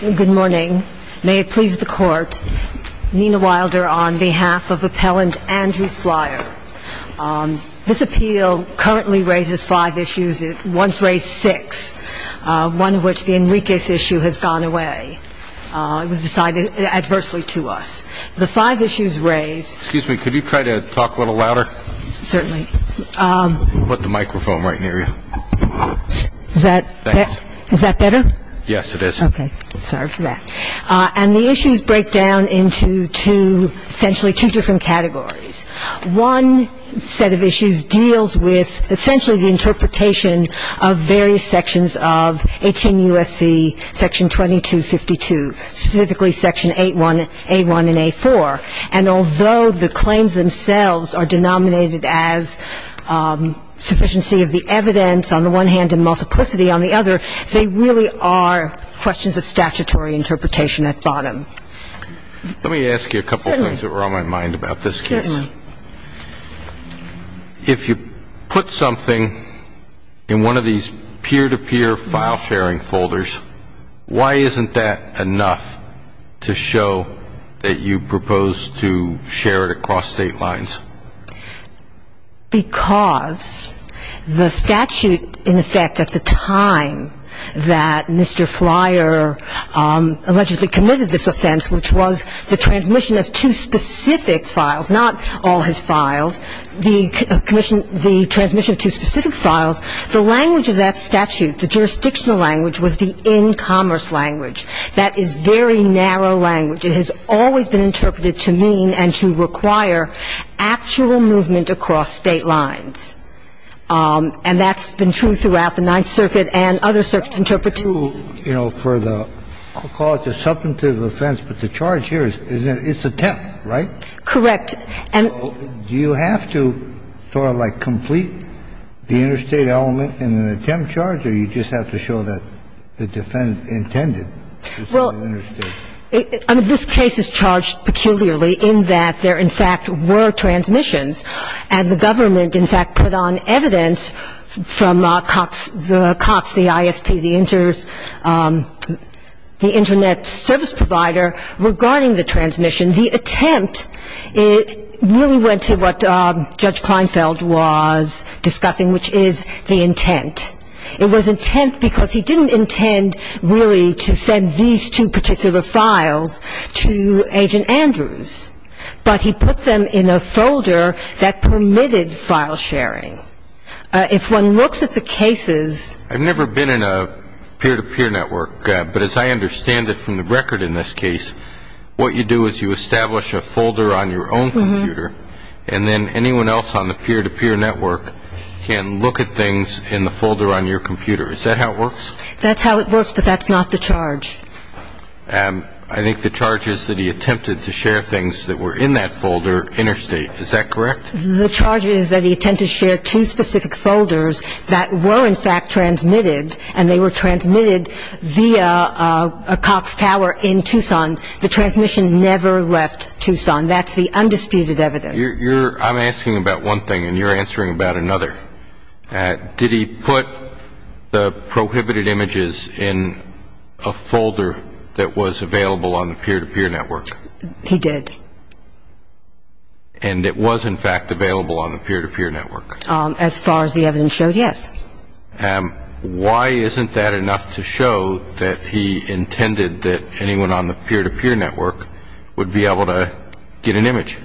Good morning. May it please the court, Nina Wilder on behalf of appellant Andrew Flyer. This appeal currently raises five issues. It once raised six, one of which, the Enriquez issue, has gone away. It was decided adversely to us. The five issues raised Excuse me, could you try to talk a little louder? Certainly. Put the microphone right near you. Is that better? Yes, it is. Okay. Sorry for that. And the issues break down into two, essentially two different categories. One set of issues deals with essentially the interpretation of various sections of 18 U.S.C. section 2252, specifically section 8.1, 8.1 and 8.4. And although the claims themselves are denominated as sufficiency of the evidence on the one hand and multiplicity on the other, they really are questions of statutory interpretation at bottom. Let me ask you a couple of things that were on my mind about this case. Certainly. If you put something in one of these peer-to-peer file sharing folders, why isn't that enough to show that you propose to share it across state lines? Because the statute, in effect, at the time that Mr. Flyer allegedly committed this offense, which was the transmission of two specific files, not all his files, the transmission of two specific files, the language of that statute, the jurisdictional language, was the in-commerce language. That is very narrow language. It has always been interpreted to mean and to require actual movement across state lines. And that's been true throughout the Ninth Circuit and other circuits interpreting. You know, for the cause of substantive offense, but the charge here is that it's attempt, right? Correct. Do you have to sort of, like, complete the interstate element in an attempt charge, or you just have to show that the defendant intended to show the interstate? Well, this case is charged peculiarly in that there, in fact, were transmissions, and the government, in fact, put on evidence from Cox, the ISP, the Internet Service Provider, regarding the transmission. The attempt really went to what Judge Kleinfeld was discussing, which is the intent. It was intent because he didn't intend really to send these two particular files to Agent Andrews, but he put them in a folder that permitted file sharing. If one looks at the cases ---- And then anyone else on the peer-to-peer network can look at things in the folder on your computer. Is that how it works? That's how it works, but that's not the charge. I think the charge is that he attempted to share things that were in that folder interstate. Is that correct? The charge is that he attempted to share two specific folders that were, in fact, transmitted, and they were transmitted via Cox Tower in Tucson. The transmission never left Tucson. That's the undisputed evidence. I'm asking about one thing, and you're answering about another. Did he put the prohibited images in a folder that was available on the peer-to-peer network? He did. And it was, in fact, available on the peer-to-peer network? As far as the evidence showed, yes. Why isn't that enough to show that he intended that anyone on the peer-to-peer network would be able to get an image?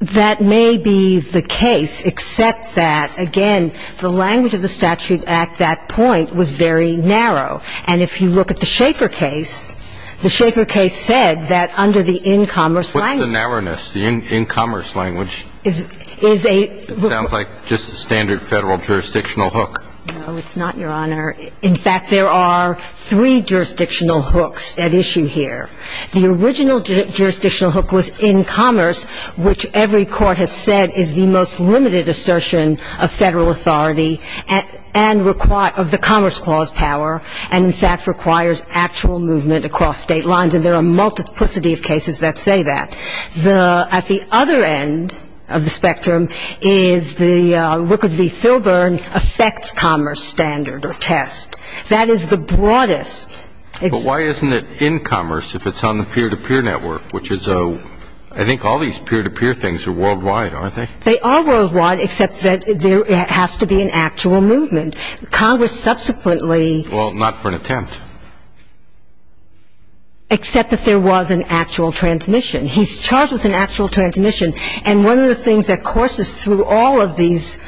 That may be the case, except that, again, the language of the statute at that point was very narrow. And if you look at the Schaeffer case, the Schaeffer case said that under the in-commerce language ---- What's the narrowness, the in-commerce language? Is a ---- It sounds like just a standard federal jurisdictional hook. No, it's not, Your Honor. In fact, there are three jurisdictional hooks at issue here. The original jurisdictional hook was in commerce, which every court has said is the most limited assertion of federal authority and require ---- of the Commerce Clause power, and, in fact, requires actual movement across state lines. And there are a multiplicity of cases that say that. At the other end of the spectrum is the ---- affects commerce standard or test. That is the broadest ---- But why isn't it in commerce if it's on the peer-to-peer network, which is a ---- I think all these peer-to-peer things are worldwide, aren't they? They are worldwide, except that there has to be an actual movement. Congress subsequently ---- Well, not for an attempt. Except that there was an actual transmission. He's charged with an actual transmission, and one of the things that courses through all of these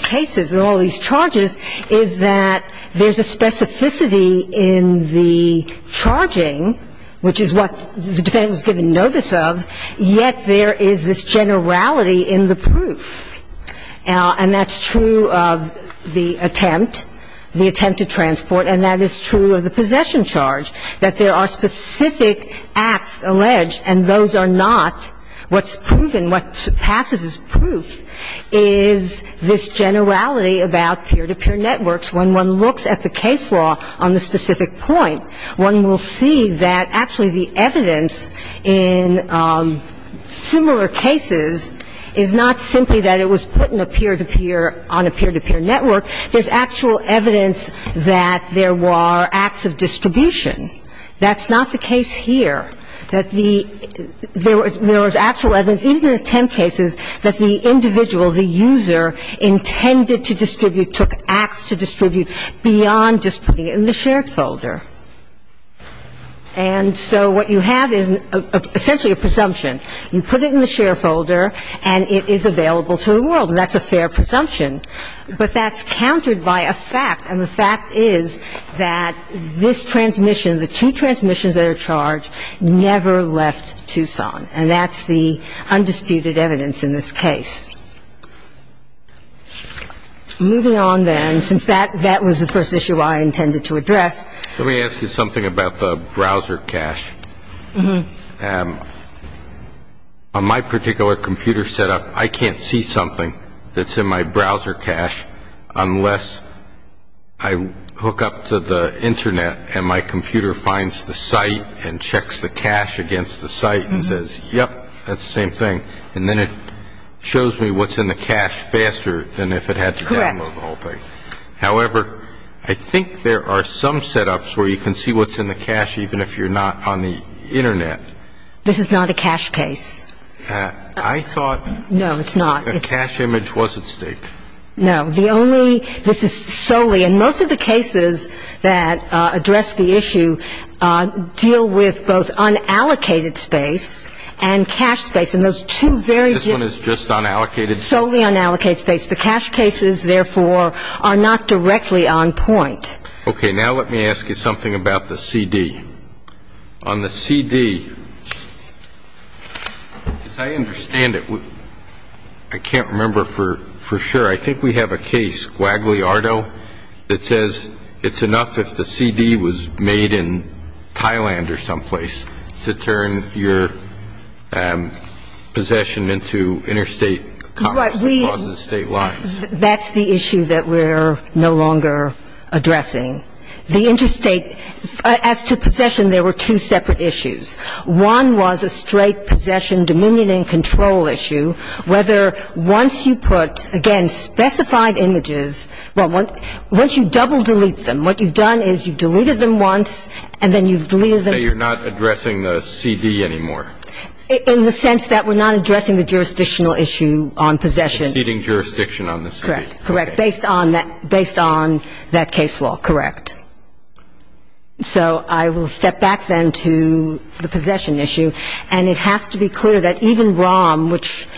cases and all these charges is that there's a specificity in the charging, which is what the defendant is given notice of, yet there is this generality in the proof. And that's true of the attempt, the attempt to transport, and that is true of the possession charge, that there are specific acts alleged, and those are not what's proven. What passes as proof is this generality about peer-to-peer networks. When one looks at the case law on the specific point, one will see that actually the evidence in similar cases is not simply that it was put in a peer-to-peer, on a peer-to-peer network. There's actual evidence that there were acts of distribution. That's not the case here, that the ---- there was actual evidence in the attempt cases that the individual, the user, intended to distribute, and that the individual was not the one who took acts to distribute beyond just putting it in the shared folder. And so what you have is essentially a presumption. You put it in the shared folder, and it is available to the world, and that's a fair presumption. But that's countered by a fact, and the fact is that this transmission, the two transmissions that are charged, never left Tucson. And that's the undisputed evidence in this case. Moving on, then, since that was the first issue I intended to address. Let me ask you something about the browser cache. On my particular computer setup, I can't see something that's in my browser cache unless I hook up to the Internet and my computer finds the site and checks the cache against the site and says, yep, that's the same thing. And then it shows me what's in the cache faster than if it had to download the whole thing. However, I think there are some setups where you can see what's in the cache even if you're not on the Internet. This is not a cache case. I thought a cache image was at stake. No. This is solely, and most of the cases that address the issue deal with both unallocated space and cache space. And those two very different. This one is just unallocated space? Solely unallocated space. The cache cases, therefore, are not directly on point. Okay. Now let me ask you something about the CD. On the CD, as I understand it, I can't remember for sure. I think we have a case, Guagliardo, that says it's enough if the CD was made in Thailand or someplace to turn your possession into interstate commerce across the state lines. That's the issue that we're no longer addressing. The interstate, as to possession, there were two separate issues. One was a straight possession, dominion and control issue. Whether once you put, again, specified images, once you double delete them, what you've done is you've deleted them once and then you've deleted them. So you're not addressing the CD anymore? In the sense that we're not addressing the jurisdictional issue on possession. Exceeding jurisdiction on the CD. Correct. Based on that case law. Correct. So I will step back then to the possession issue. And it has to be clear that even ROM, which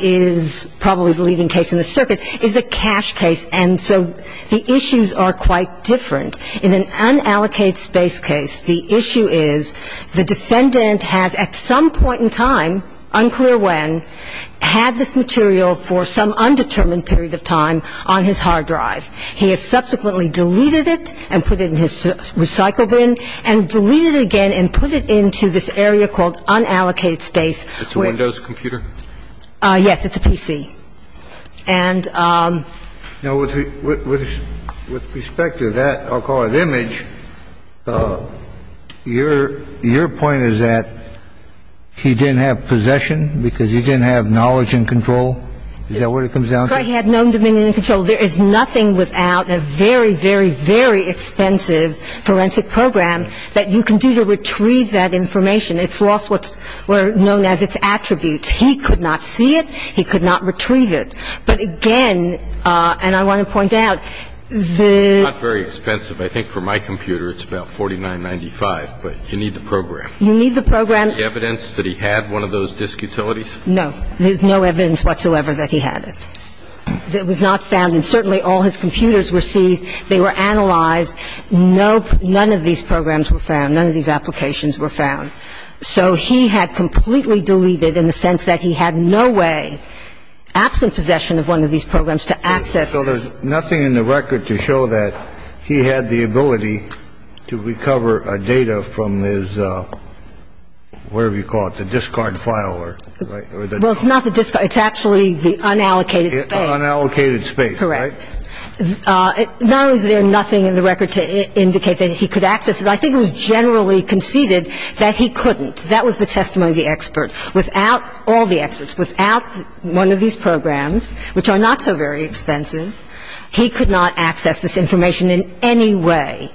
is probably the leading case in the circuit, is a cash case. And so the issues are quite different. In an unallocated space case, the issue is the defendant has at some point in time, unclear when, had this material for some undetermined period of time on his hard drive. He has subsequently deleted it and put it in his recycle bin and deleted it again and put it into this area called unallocated space. It's a Windows computer? Yes. It's a PC. And. Now, with respect to that, I'll call it image, your point is that he didn't have possession because he didn't have knowledge and control? Is that what it comes down to? He had no dominion and control. There is nothing without a very, very, very expensive forensic program that you can do to retrieve that information. It's lost what's known as its attributes. He could not see it. He could not retrieve it. But, again, and I want to point out, the. It's not very expensive. I think for my computer it's about $49.95, but you need the program. You need the program. Is there evidence that he had one of those disk utilities? No. There's no evidence whatsoever that he had it. Well, let me ask you something. I mean, is there any evidence that he had that was not found? And certainly all his computers were seized. They were analyzed. No, none of these programs were found. None of these applications were found. So he had completely deleted in the sense that he had no way absent possession of one of these programs to access. So there's nothing in the record to show that he had the ability to recover data from his, whatever you call it, the discard file. Well, it's not the discard. It's actually the unallocated space. Unallocated space. Correct. Not only is there nothing in the record to indicate that he could access it, I think it was generally conceded that he couldn't. That was the testimony of the expert. Without all the experts, without one of these programs, which are not so very expensive, he could not access this information in any way.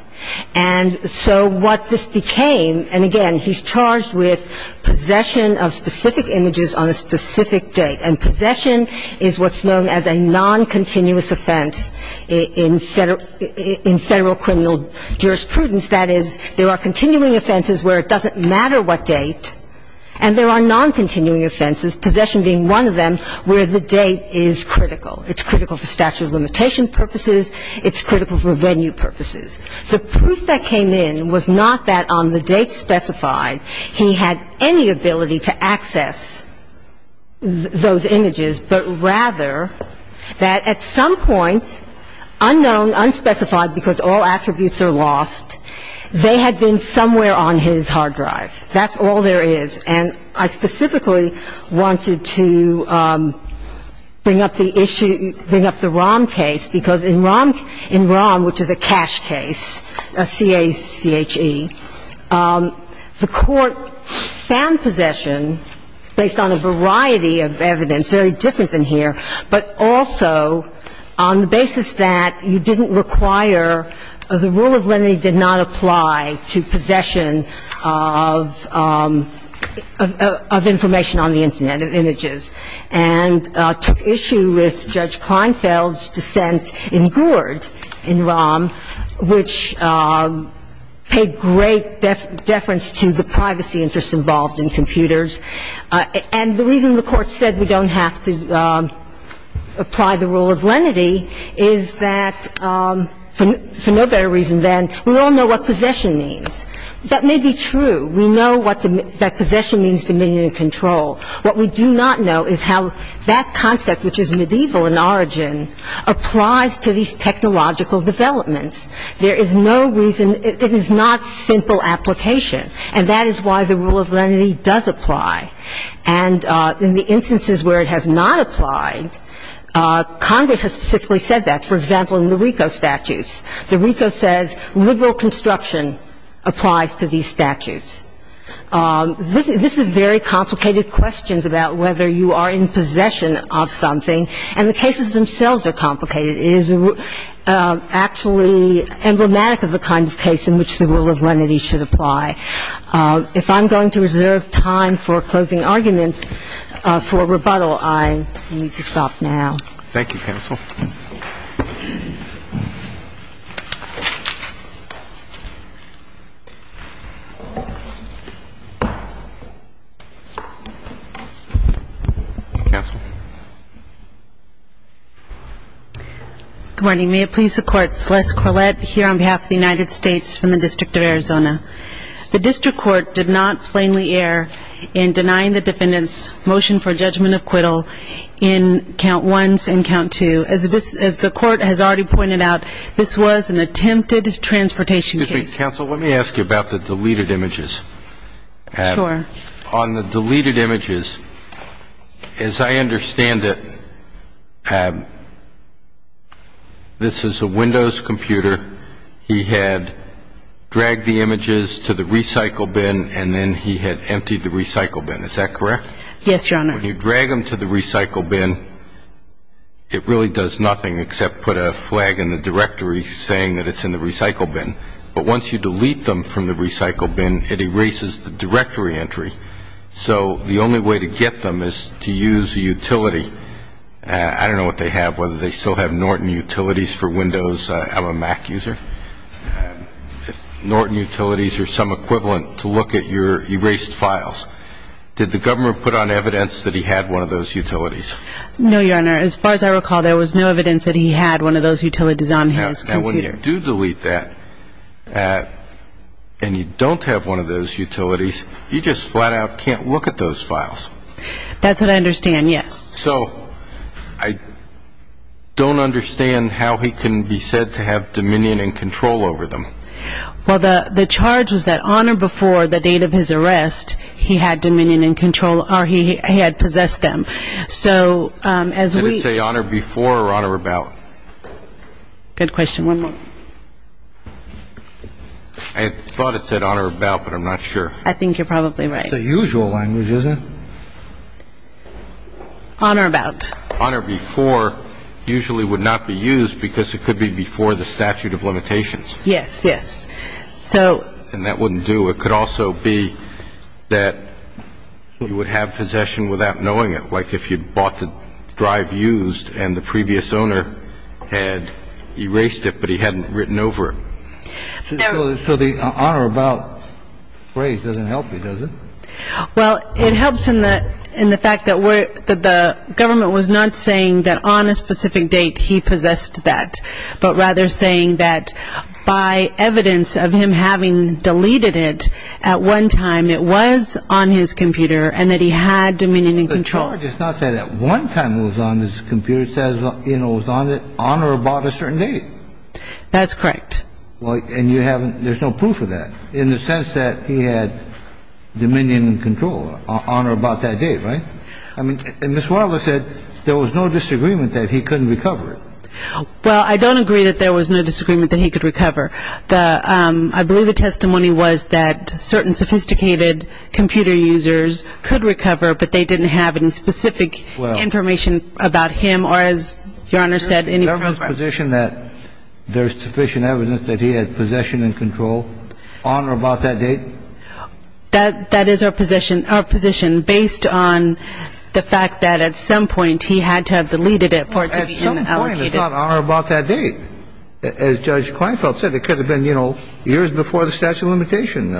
And so what this became, and again, he's charged with possession of specific images on a specific date. And possession is what's known as a noncontinuous offense in Federal criminal jurisprudence. That is, there are continuing offenses where it doesn't matter what date, and there are noncontinuing offenses, possession being one of them, where the date is critical. It's critical for statute of limitation purposes. It's critical for venue purposes. The proof that came in was not that on the date specified he had any ability to access those images, but rather that at some point, unknown, unspecified, because all attributes are lost, they had been somewhere on his hard drive. That's all there is. And I specifically wanted to bring up the issue, bring up the Rahm case, because in Rahm, which is a cash case, C-A-C-H-E, the Court found possession based on a variety of evidence, very different than here, but also on the basis that you didn't require, the rule of lenity did not apply to possession of information on the Internet, of images, and took issue with Judge Kleinfeld's dissent in Gourd in Rahm, which paid great deference to the privacy interests involved in computers. And the reason the Court said we don't have to apply the rule of lenity is that, for no better reason than, we all know what possession means. That may be true. We know that possession means dominion and control. What we do not know is how that concept, which is medieval in origin, applies to these technological developments. There is no reason. It is not simple application. And that is why the rule of lenity does apply. And in the instances where it has not applied, Congress has specifically said that. For example, in the RICO statutes, the RICO says liberal construction applies to these statutes. This is very complicated questions about whether you are in possession of something. And the cases themselves are complicated. It is actually emblematic of the kind of case in which the rule of lenity should apply. If I'm going to reserve time for closing arguments for rebuttal, I need to stop now. Thank you, Counsel. Counsel. Good morning. May it please the Court, Celeste Corlett here on behalf of the United States from the District of Arizona. The district court did not plainly err in denying the defendant's motion for judgment of acquittal in count ones and count two. As the court has already pointed out, this was an attempted transportation case. Excuse me, Counsel. Let me ask you about the deleted images. Sure. On the deleted images, as I understand it, this is a Windows computer. He had dragged the images to the recycle bin and then he had emptied the recycle bin. Is that correct? Yes, Your Honor. When you drag them to the recycle bin, it really does nothing except put a flag in the directory saying that it's in the recycle bin. But once you delete them from the recycle bin, it erases the directory entry. So the only way to get them is to use a utility. I don't know what they have, whether they still have Norton Utilities for Windows of a Mac user. Norton Utilities are some equivalent to look at your erased files. Did the government put on evidence that he had one of those utilities? No, Your Honor. As far as I recall, there was no evidence that he had one of those utilities on his computer. Now, when you do delete that and you don't have one of those utilities, you just flat out can't look at those files. That's what I understand, yes. So I don't understand how he can be said to have dominion and control over them. Well, the charge was that on or before the date of his arrest, he had dominion and control or he had possessed them. So as we – Did it say on or before or on or about? Good question. One moment. I thought it said on or about, but I'm not sure. I think you're probably right. It's a usual language, isn't it? On or about. On or before usually would not be used because it could be before the statute of limitations. Yes, yes. So – And that wouldn't do. It could also be that you would have possession without knowing it. Like if you bought the drive used and the previous owner had erased it, but he hadn't written over it. So the on or about phrase doesn't help you, does it? Well, it helps in the fact that the government was not saying that on a specific date he possessed that, but rather saying that by evidence of him having deleted it at one time, it was on his computer and that he had dominion and control. The charge is not that at one time it was on his computer. It says on or about a certain date. That's correct. And you haven't – there's no proof of that in the sense that he had dominion and control on or about that date, right? I mean, Ms. Wilder said there was no disagreement that he couldn't recover it. Well, I don't agree that there was no disagreement that he could recover. I believe the testimony was that certain sophisticated computer users could recover, but they didn't have any specific information about him or, as Your Honor said, any program. So you're saying that there's sufficient evidence that he had possession and control on or about that date? That is our position. Our position based on the fact that at some point he had to have deleted it for it to be allocated. At some point, it's not on or about that date. As Judge Kleinfeld said, it could have been, you know, years before the statute of limitations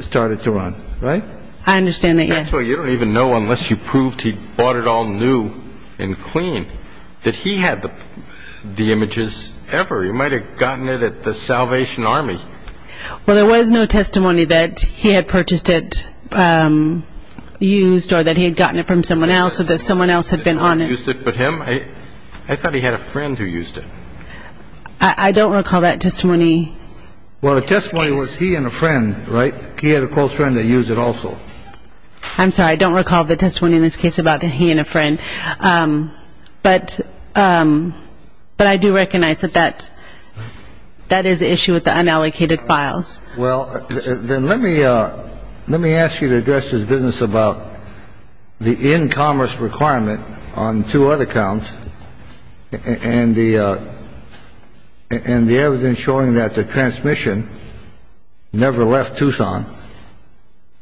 started to run, right? I understand that, yes. Well, you don't even know unless you proved he bought it all new and clean that he had the images ever. He might have gotten it at the Salvation Army. Well, there was no testimony that he had purchased it used or that he had gotten it from someone else or that someone else had been on it. He didn't use it but him? I thought he had a friend who used it. I don't recall that testimony. Well, the testimony was he and a friend, right? He had a close friend that used it also. I'm sorry. I don't recall the testimony in this case about he and a friend. But I do recognize that that is an issue with the unallocated files. Well, then let me ask you to address this business about the in-commerce requirement on two other counts and the evidence showing that the transmission never left Tucson.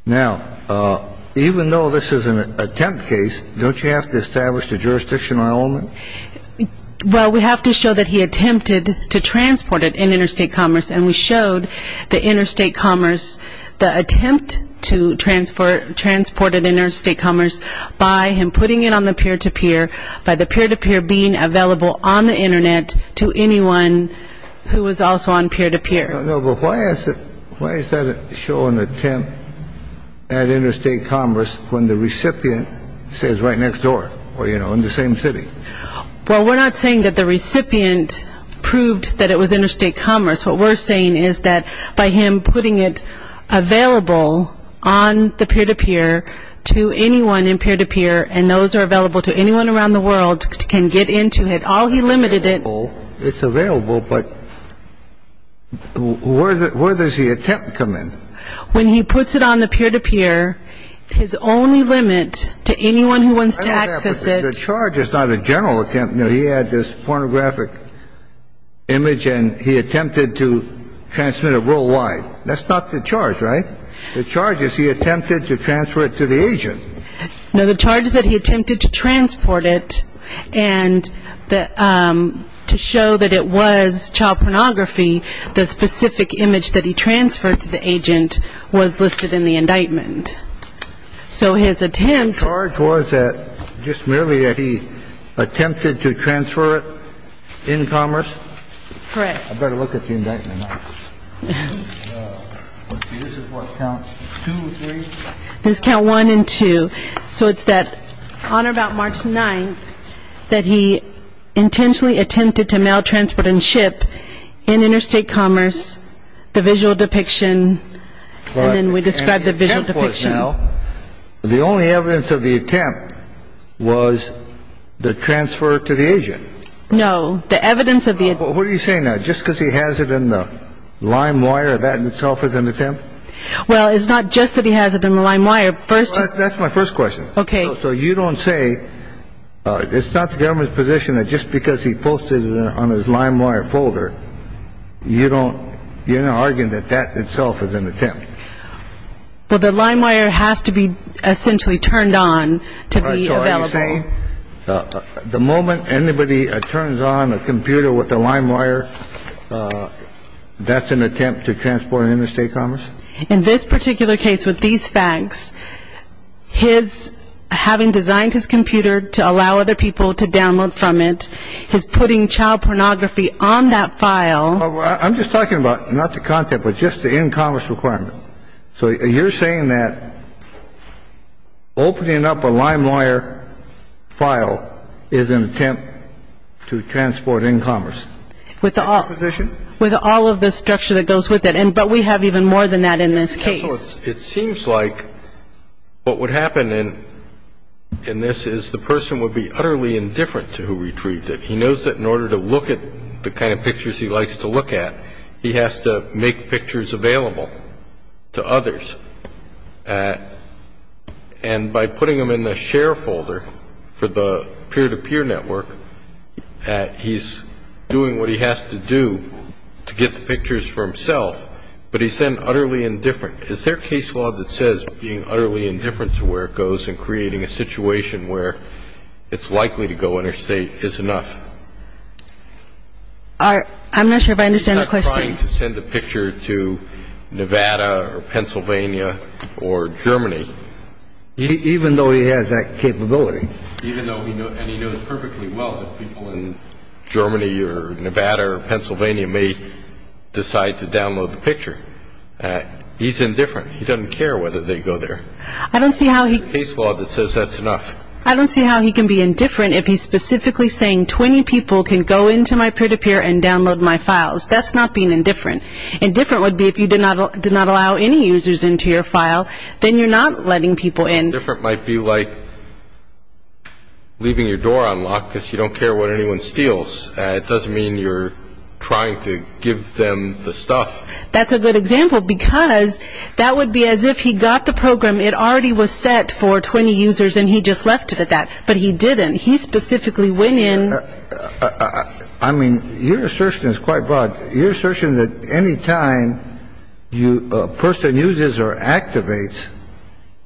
Now, even though this is an attempt case, don't you have to establish the jurisdictional element? Well, we have to show that he attempted to transport it in interstate commerce, and we showed the interstate commerce the attempt to transport it interstate commerce by him putting it on the peer-to-peer, by the peer-to-peer being available on the Internet to anyone who was also on peer-to-peer. No, but why is that show an attempt at interstate commerce when the recipient says right next door or, you know, in the same city? Well, we're not saying that the recipient proved that it was interstate commerce. What we're saying is that by him putting it available on the peer-to-peer to anyone in peer-to-peer, and those are available to anyone around the world can get into it. All he limited it. It's available, but where does the attempt come in? When he puts it on the peer-to-peer, his only limit to anyone who wants to access it. The charge is not a general attempt. He had this pornographic image, and he attempted to transmit it worldwide. That's not the charge, right? The charge is he attempted to transfer it to the agent. No, the charge is that he attempted to transport it. And to show that it was child pornography, the specific image that he transferred to the agent was listed in the indictment. So his attempt. The charge was just merely that he attempted to transfer it in commerce? Correct. I better look at the indictment. This is what counts, two or three? This is count one and two. So it's that on or about March 9th that he intentionally attempted to mail, transport, and ship in interstate commerce the visual depiction, and then we described the visual depiction. The only evidence of the attempt was the transfer to the agent. No, the evidence of the attempt. What are you saying? Just because he has it in the lime wire, that in itself is an attempt? Well, it's not just that he has it in the lime wire. That's my first question. Okay. So you don't say, it's not the government's position that just because he posted it on his lime wire folder, you're not arguing that that itself is an attempt? Well, the lime wire has to be essentially turned on to be available. The moment anybody turns on a computer with a lime wire, that's an attempt to transport an interstate commerce? In this particular case with these facts, his having designed his computer to allow other people to download from it, his putting child pornography on that file. I'm just talking about not the content, but just the in-commerce requirement. So you're saying that opening up a lime wire file is an attempt to transport in-commerce? With all of the structure that goes with it. But we have even more than that in this case. It seems like what would happen in this is the person would be utterly indifferent to who retrieved it. He knows that in order to look at the kind of pictures he likes to look at, he has to make pictures available to others. And by putting them in the share folder for the peer-to-peer network, he's doing what he has to do to get the pictures for himself, but he's then utterly indifferent. Is there case law that says being utterly indifferent to where it goes and creating a situation where it's likely to go interstate is enough? I'm not sure if I understand the question. He's not trying to send a picture to Nevada or Pennsylvania or Germany. Even though he has that capability. Even though he knows perfectly well that people in Germany or Nevada or Pennsylvania may decide to download the picture. He's indifferent. He doesn't care whether they go there. I don't see how he can be indifferent if he's specifically saying 20 people can go into my peer-to-peer and download my files. That's not being indifferent. Indifferent would be if you did not allow any users into your file, then you're not letting people in. Indifferent might be like leaving your door unlocked because you don't care what anyone steals. It doesn't mean you're trying to give them the stuff. That's a good example because that would be as if he got the program. It already was set for 20 users and he just left it at that. But he didn't. He specifically went in. I mean, your assertion is quite broad. Your assertion that any time a person uses or activates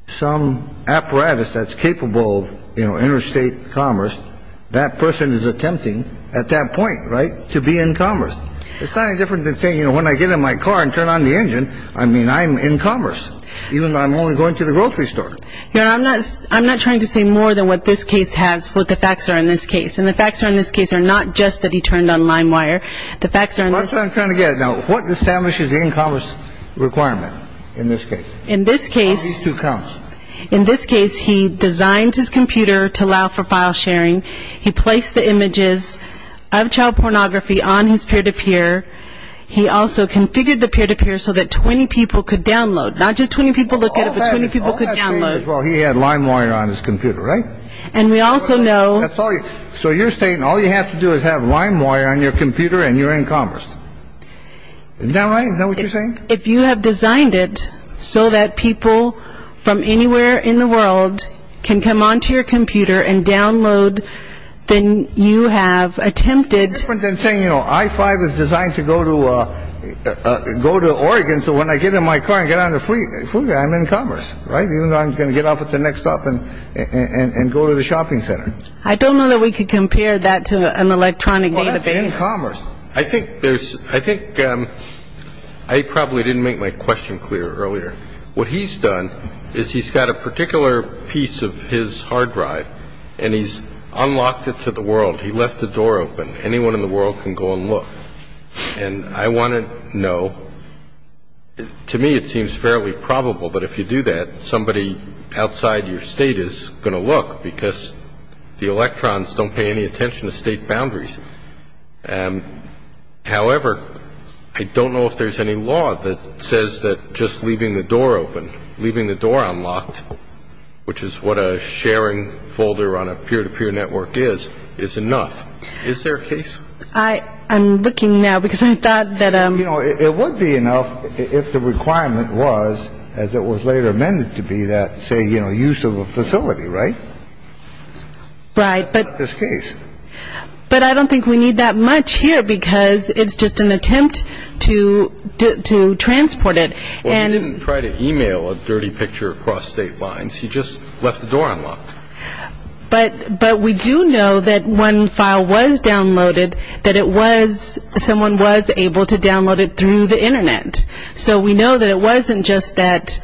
some apparatus that's capable of interstate commerce, that person is attempting at that point, right, to be in commerce. It's not any different than saying, you know, when I get in my car and turn on the engine, I mean, I'm in commerce, even though I'm only going to the grocery store. No, I'm not trying to say more than what this case has, what the facts are in this case. And the facts are in this case are not just that he turned on LimeWire. The facts are in this case. That's what I'm trying to get at. Now, what establishes the in-commerce requirement in this case? In this case. These two counts. In this case, he designed his computer to allow for file sharing. He placed the images of child pornography on his peer-to-peer. He also configured the peer-to-peer so that 20 people could download. Not just 20 people look at it, but 20 people could download. Well, he had LimeWire on his computer, right? And we also know. So you're saying all you have to do is have LimeWire on your computer and you're in commerce. Is that right? Is that what you're saying? If you have designed it so that people from anywhere in the world can come onto your computer and download, then you have attempted. It's different than saying, you know, I-5 is designed to go to Oregon. So when I get in my car and get on the freeway, I'm in commerce, right? Even though I'm going to get off at the next stop and go to the shopping center. I don't know that we could compare that to an electronic database. Well, that's in commerce. I probably didn't make my question clear earlier. What he's done is he's got a particular piece of his hard drive and he's unlocked it to the world. He left the door open. Anyone in the world can go and look. And I want to know. To me, it seems fairly probable that if you do that, somebody outside your state is going to look because the electrons don't pay any attention to state boundaries. However, I don't know if there's any law that says that just leaving the door open, leaving the door unlocked, which is what a sharing folder on a peer-to-peer network is, is enough. Is there a case? I'm looking now because I thought that- You know, it would be enough if the requirement was, as it was later amended to be, that, say, you know, use of a facility, right? Right. But- In this case. But I don't think we need that much here because it's just an attempt to transport it. Well, he didn't try to e-mail a dirty picture across state lines. He just left the door unlocked. But we do know that when the file was downloaded, that it was-someone was able to download it through the Internet. So we know that it wasn't just that-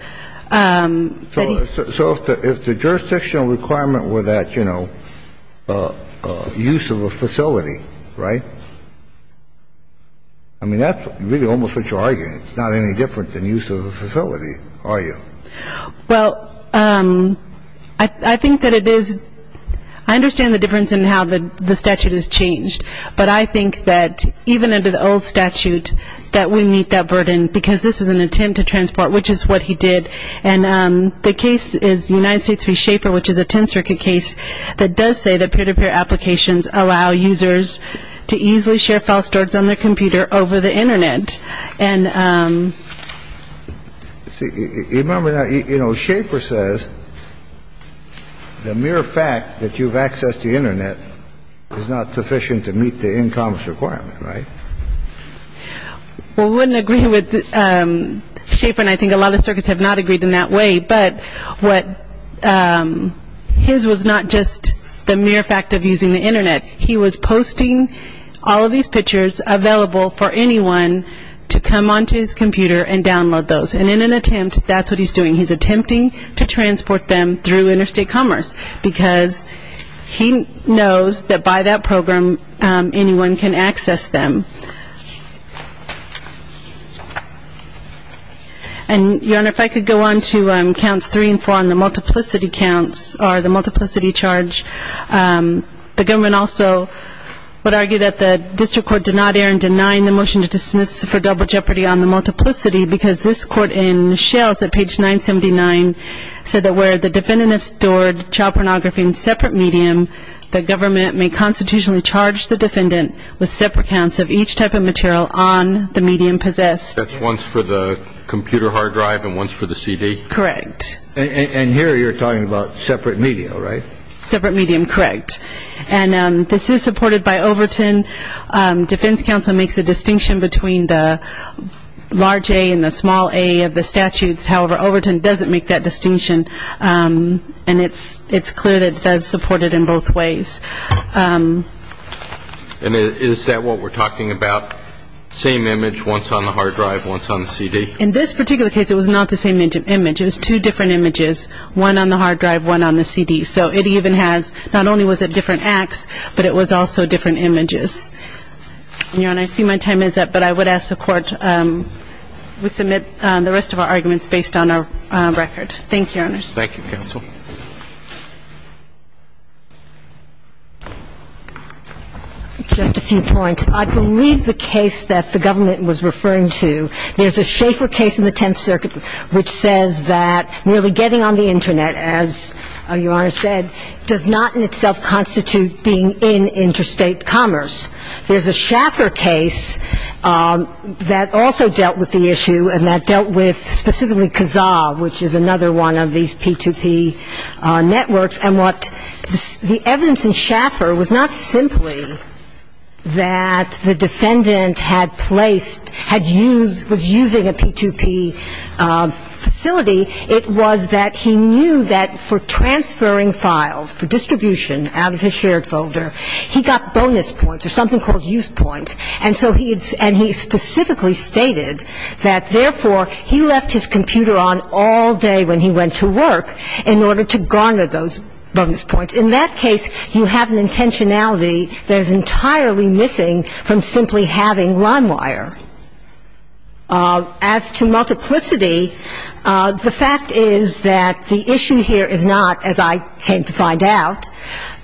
So if the jurisdictional requirement were that, you know, use of a facility, right? I mean, that's really almost what you're arguing. It's not any different than use of a facility, are you? Well, I think that it is-I understand the difference in how the statute is changed. But I think that even under the old statute that we meet that burden because this is an attempt to transport, which is what he did. And the case is United States v. Schaefer, which is a 10 circuit case that does say that peer-to-peer applications allow users to easily share file storage on their computer over the Internet. And- See, remember now, you know, Schaefer says the mere fact that you've accessed the Internet is not sufficient to meet the income requirement, right? Well, we wouldn't agree with-Schaefer and I think a lot of circuits have not agreed in that way. But what-his was not just the mere fact of using the Internet. He was posting all of these pictures available for anyone to come onto his computer and download those. And in an attempt, that's what he's doing. He's attempting to transport them through Interstate Commerce because he knows that by that program, anyone can access them. And, Your Honor, if I could go on to counts three and four on the multiplicity counts or the multiplicity charge. The government also would argue that the district court did not err in denying the motion to dismiss for double jeopardy on the multiplicity because this court in Shells at page 979 said that where the defendant has stored child pornography in separate medium, the government may constitutionally charge the defendant with separate counts of each type of material on the medium possessed. That's once for the computer hard drive and once for the CD? Correct. And here you're talking about separate medium, right? Separate medium, correct. And this is supported by Overton. Defense counsel makes a distinction between the large A and the small A of the statutes. However, Overton doesn't make that distinction. And it's clear that it does support it in both ways. And is that what we're talking about, same image, once on the hard drive, once on the CD? In this particular case, it was not the same image. It was two different images, one on the hard drive, one on the CD. So it even has not only was it different acts, but it was also different images. Your Honor, I see my time is up, but I would ask the Court to submit the rest of our arguments based on our record. Thank you, Your Honors. Thank you, counsel. Just a few points. I believe the case that the government was referring to, there's a Schaeffer case in the Tenth Circuit which says that nearly getting on the Internet, as Your Honor said, does not in itself constitute being in interstate commerce. There's a Schaeffer case that also dealt with the issue and that dealt with specifically Kazaa, which is another one of these P2P networks. And what the evidence in Schaeffer was not simply that the defendant had placed, had used, was using a P2P facility. It was that he knew that for transferring files, for distribution out of his shared folder, he got bonus points or something called use points. And so he specifically stated that, therefore, he left his computer on all day when he went to work in order to garner those bonus points. In that case, you have an intentionality that is entirely missing from simply having LimeWire. As to multiplicity, the fact is that the issue here is not, as I came to find out,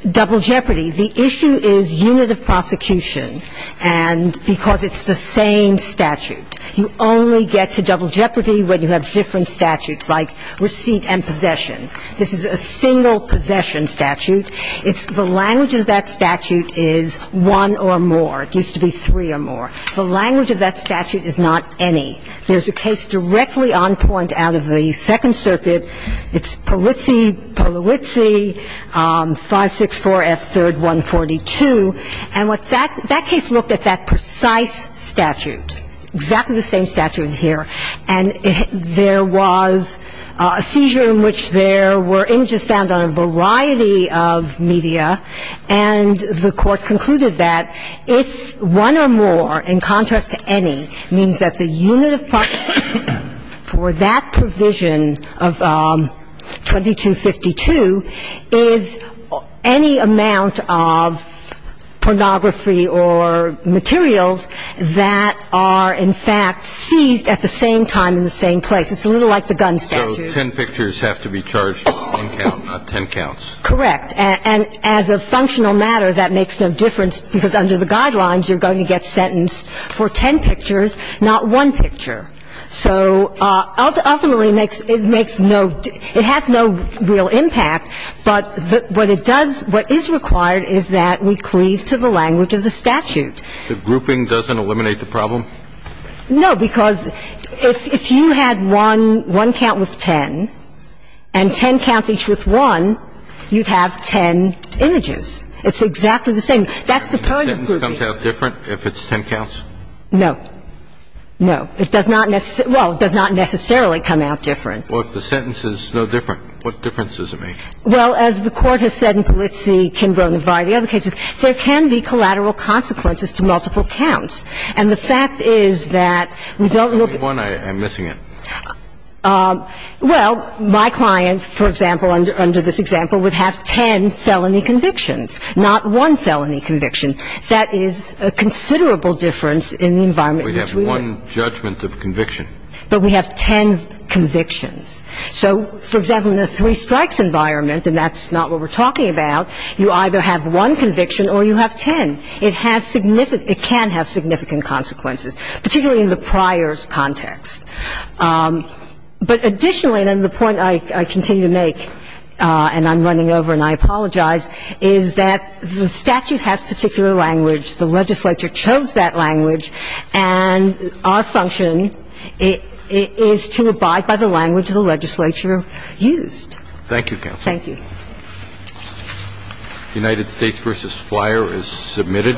double jeopardy. The issue is unit of prosecution and because it's the same statute. You only get to double jeopardy when you have different statutes like receipt and possession. This is a single possession statute. It's the language of that statute is one or more. It used to be three or more. The language of that statute is not any. There's a case directly on point out of the Second Circuit. It's Polizzi, Polizzi, 564F3rd142. And what that – that case looked at that precise statute, exactly the same statute here. And there was a seizure in which there were images found on a variety of media, and the Court concluded that if one or more, in contrast to any, means that the unit of prosecution for that provision of 2252 is any amount of pornography or materials that are, in fact, seized at the same time in the same place. It's a little like the gun statute. So ten pictures have to be charged on one count, not ten counts. Correct. And as a functional matter, that makes no difference because under the guidelines, you're going to get sentenced for ten pictures, not one picture. So ultimately, it makes no – it has no real impact. But what it does – what is required is that we cleave to the language of the statute. The grouping doesn't eliminate the problem? No, because if you had one – one count with ten, and ten counts each with one, you'd have ten images. It's exactly the same. That's the kind of grouping. Can a sentence come out different if it's ten counts? No. No. It does not necessarily – well, it does not necessarily come out different. Well, if the sentence is no different, what difference does it make? Well, as the Court has said in Polizzi, Kimbrough, Navarro, and the other cases, there can be collateral consequences to multiple counts. And the fact is that we don't look at – Only one I'm missing in. Well, my client, for example, under this example, would have ten felony convictions, not one felony conviction. That is a considerable difference in the environment in which we live. We'd have one judgment of conviction. But we have ten convictions. So, for example, in a three-strikes environment, and that's not what we're talking about, you either have one conviction or you have ten. It has – it can have significant consequences, particularly in the priors context. But additionally, and the point I continue to make, and I'm running over and I apologize, is that the statute has particular language. The legislature chose that language. And our function is to abide by the language the legislature used. Thank you, counsel. Thank you. United States v. Flyer is submitted.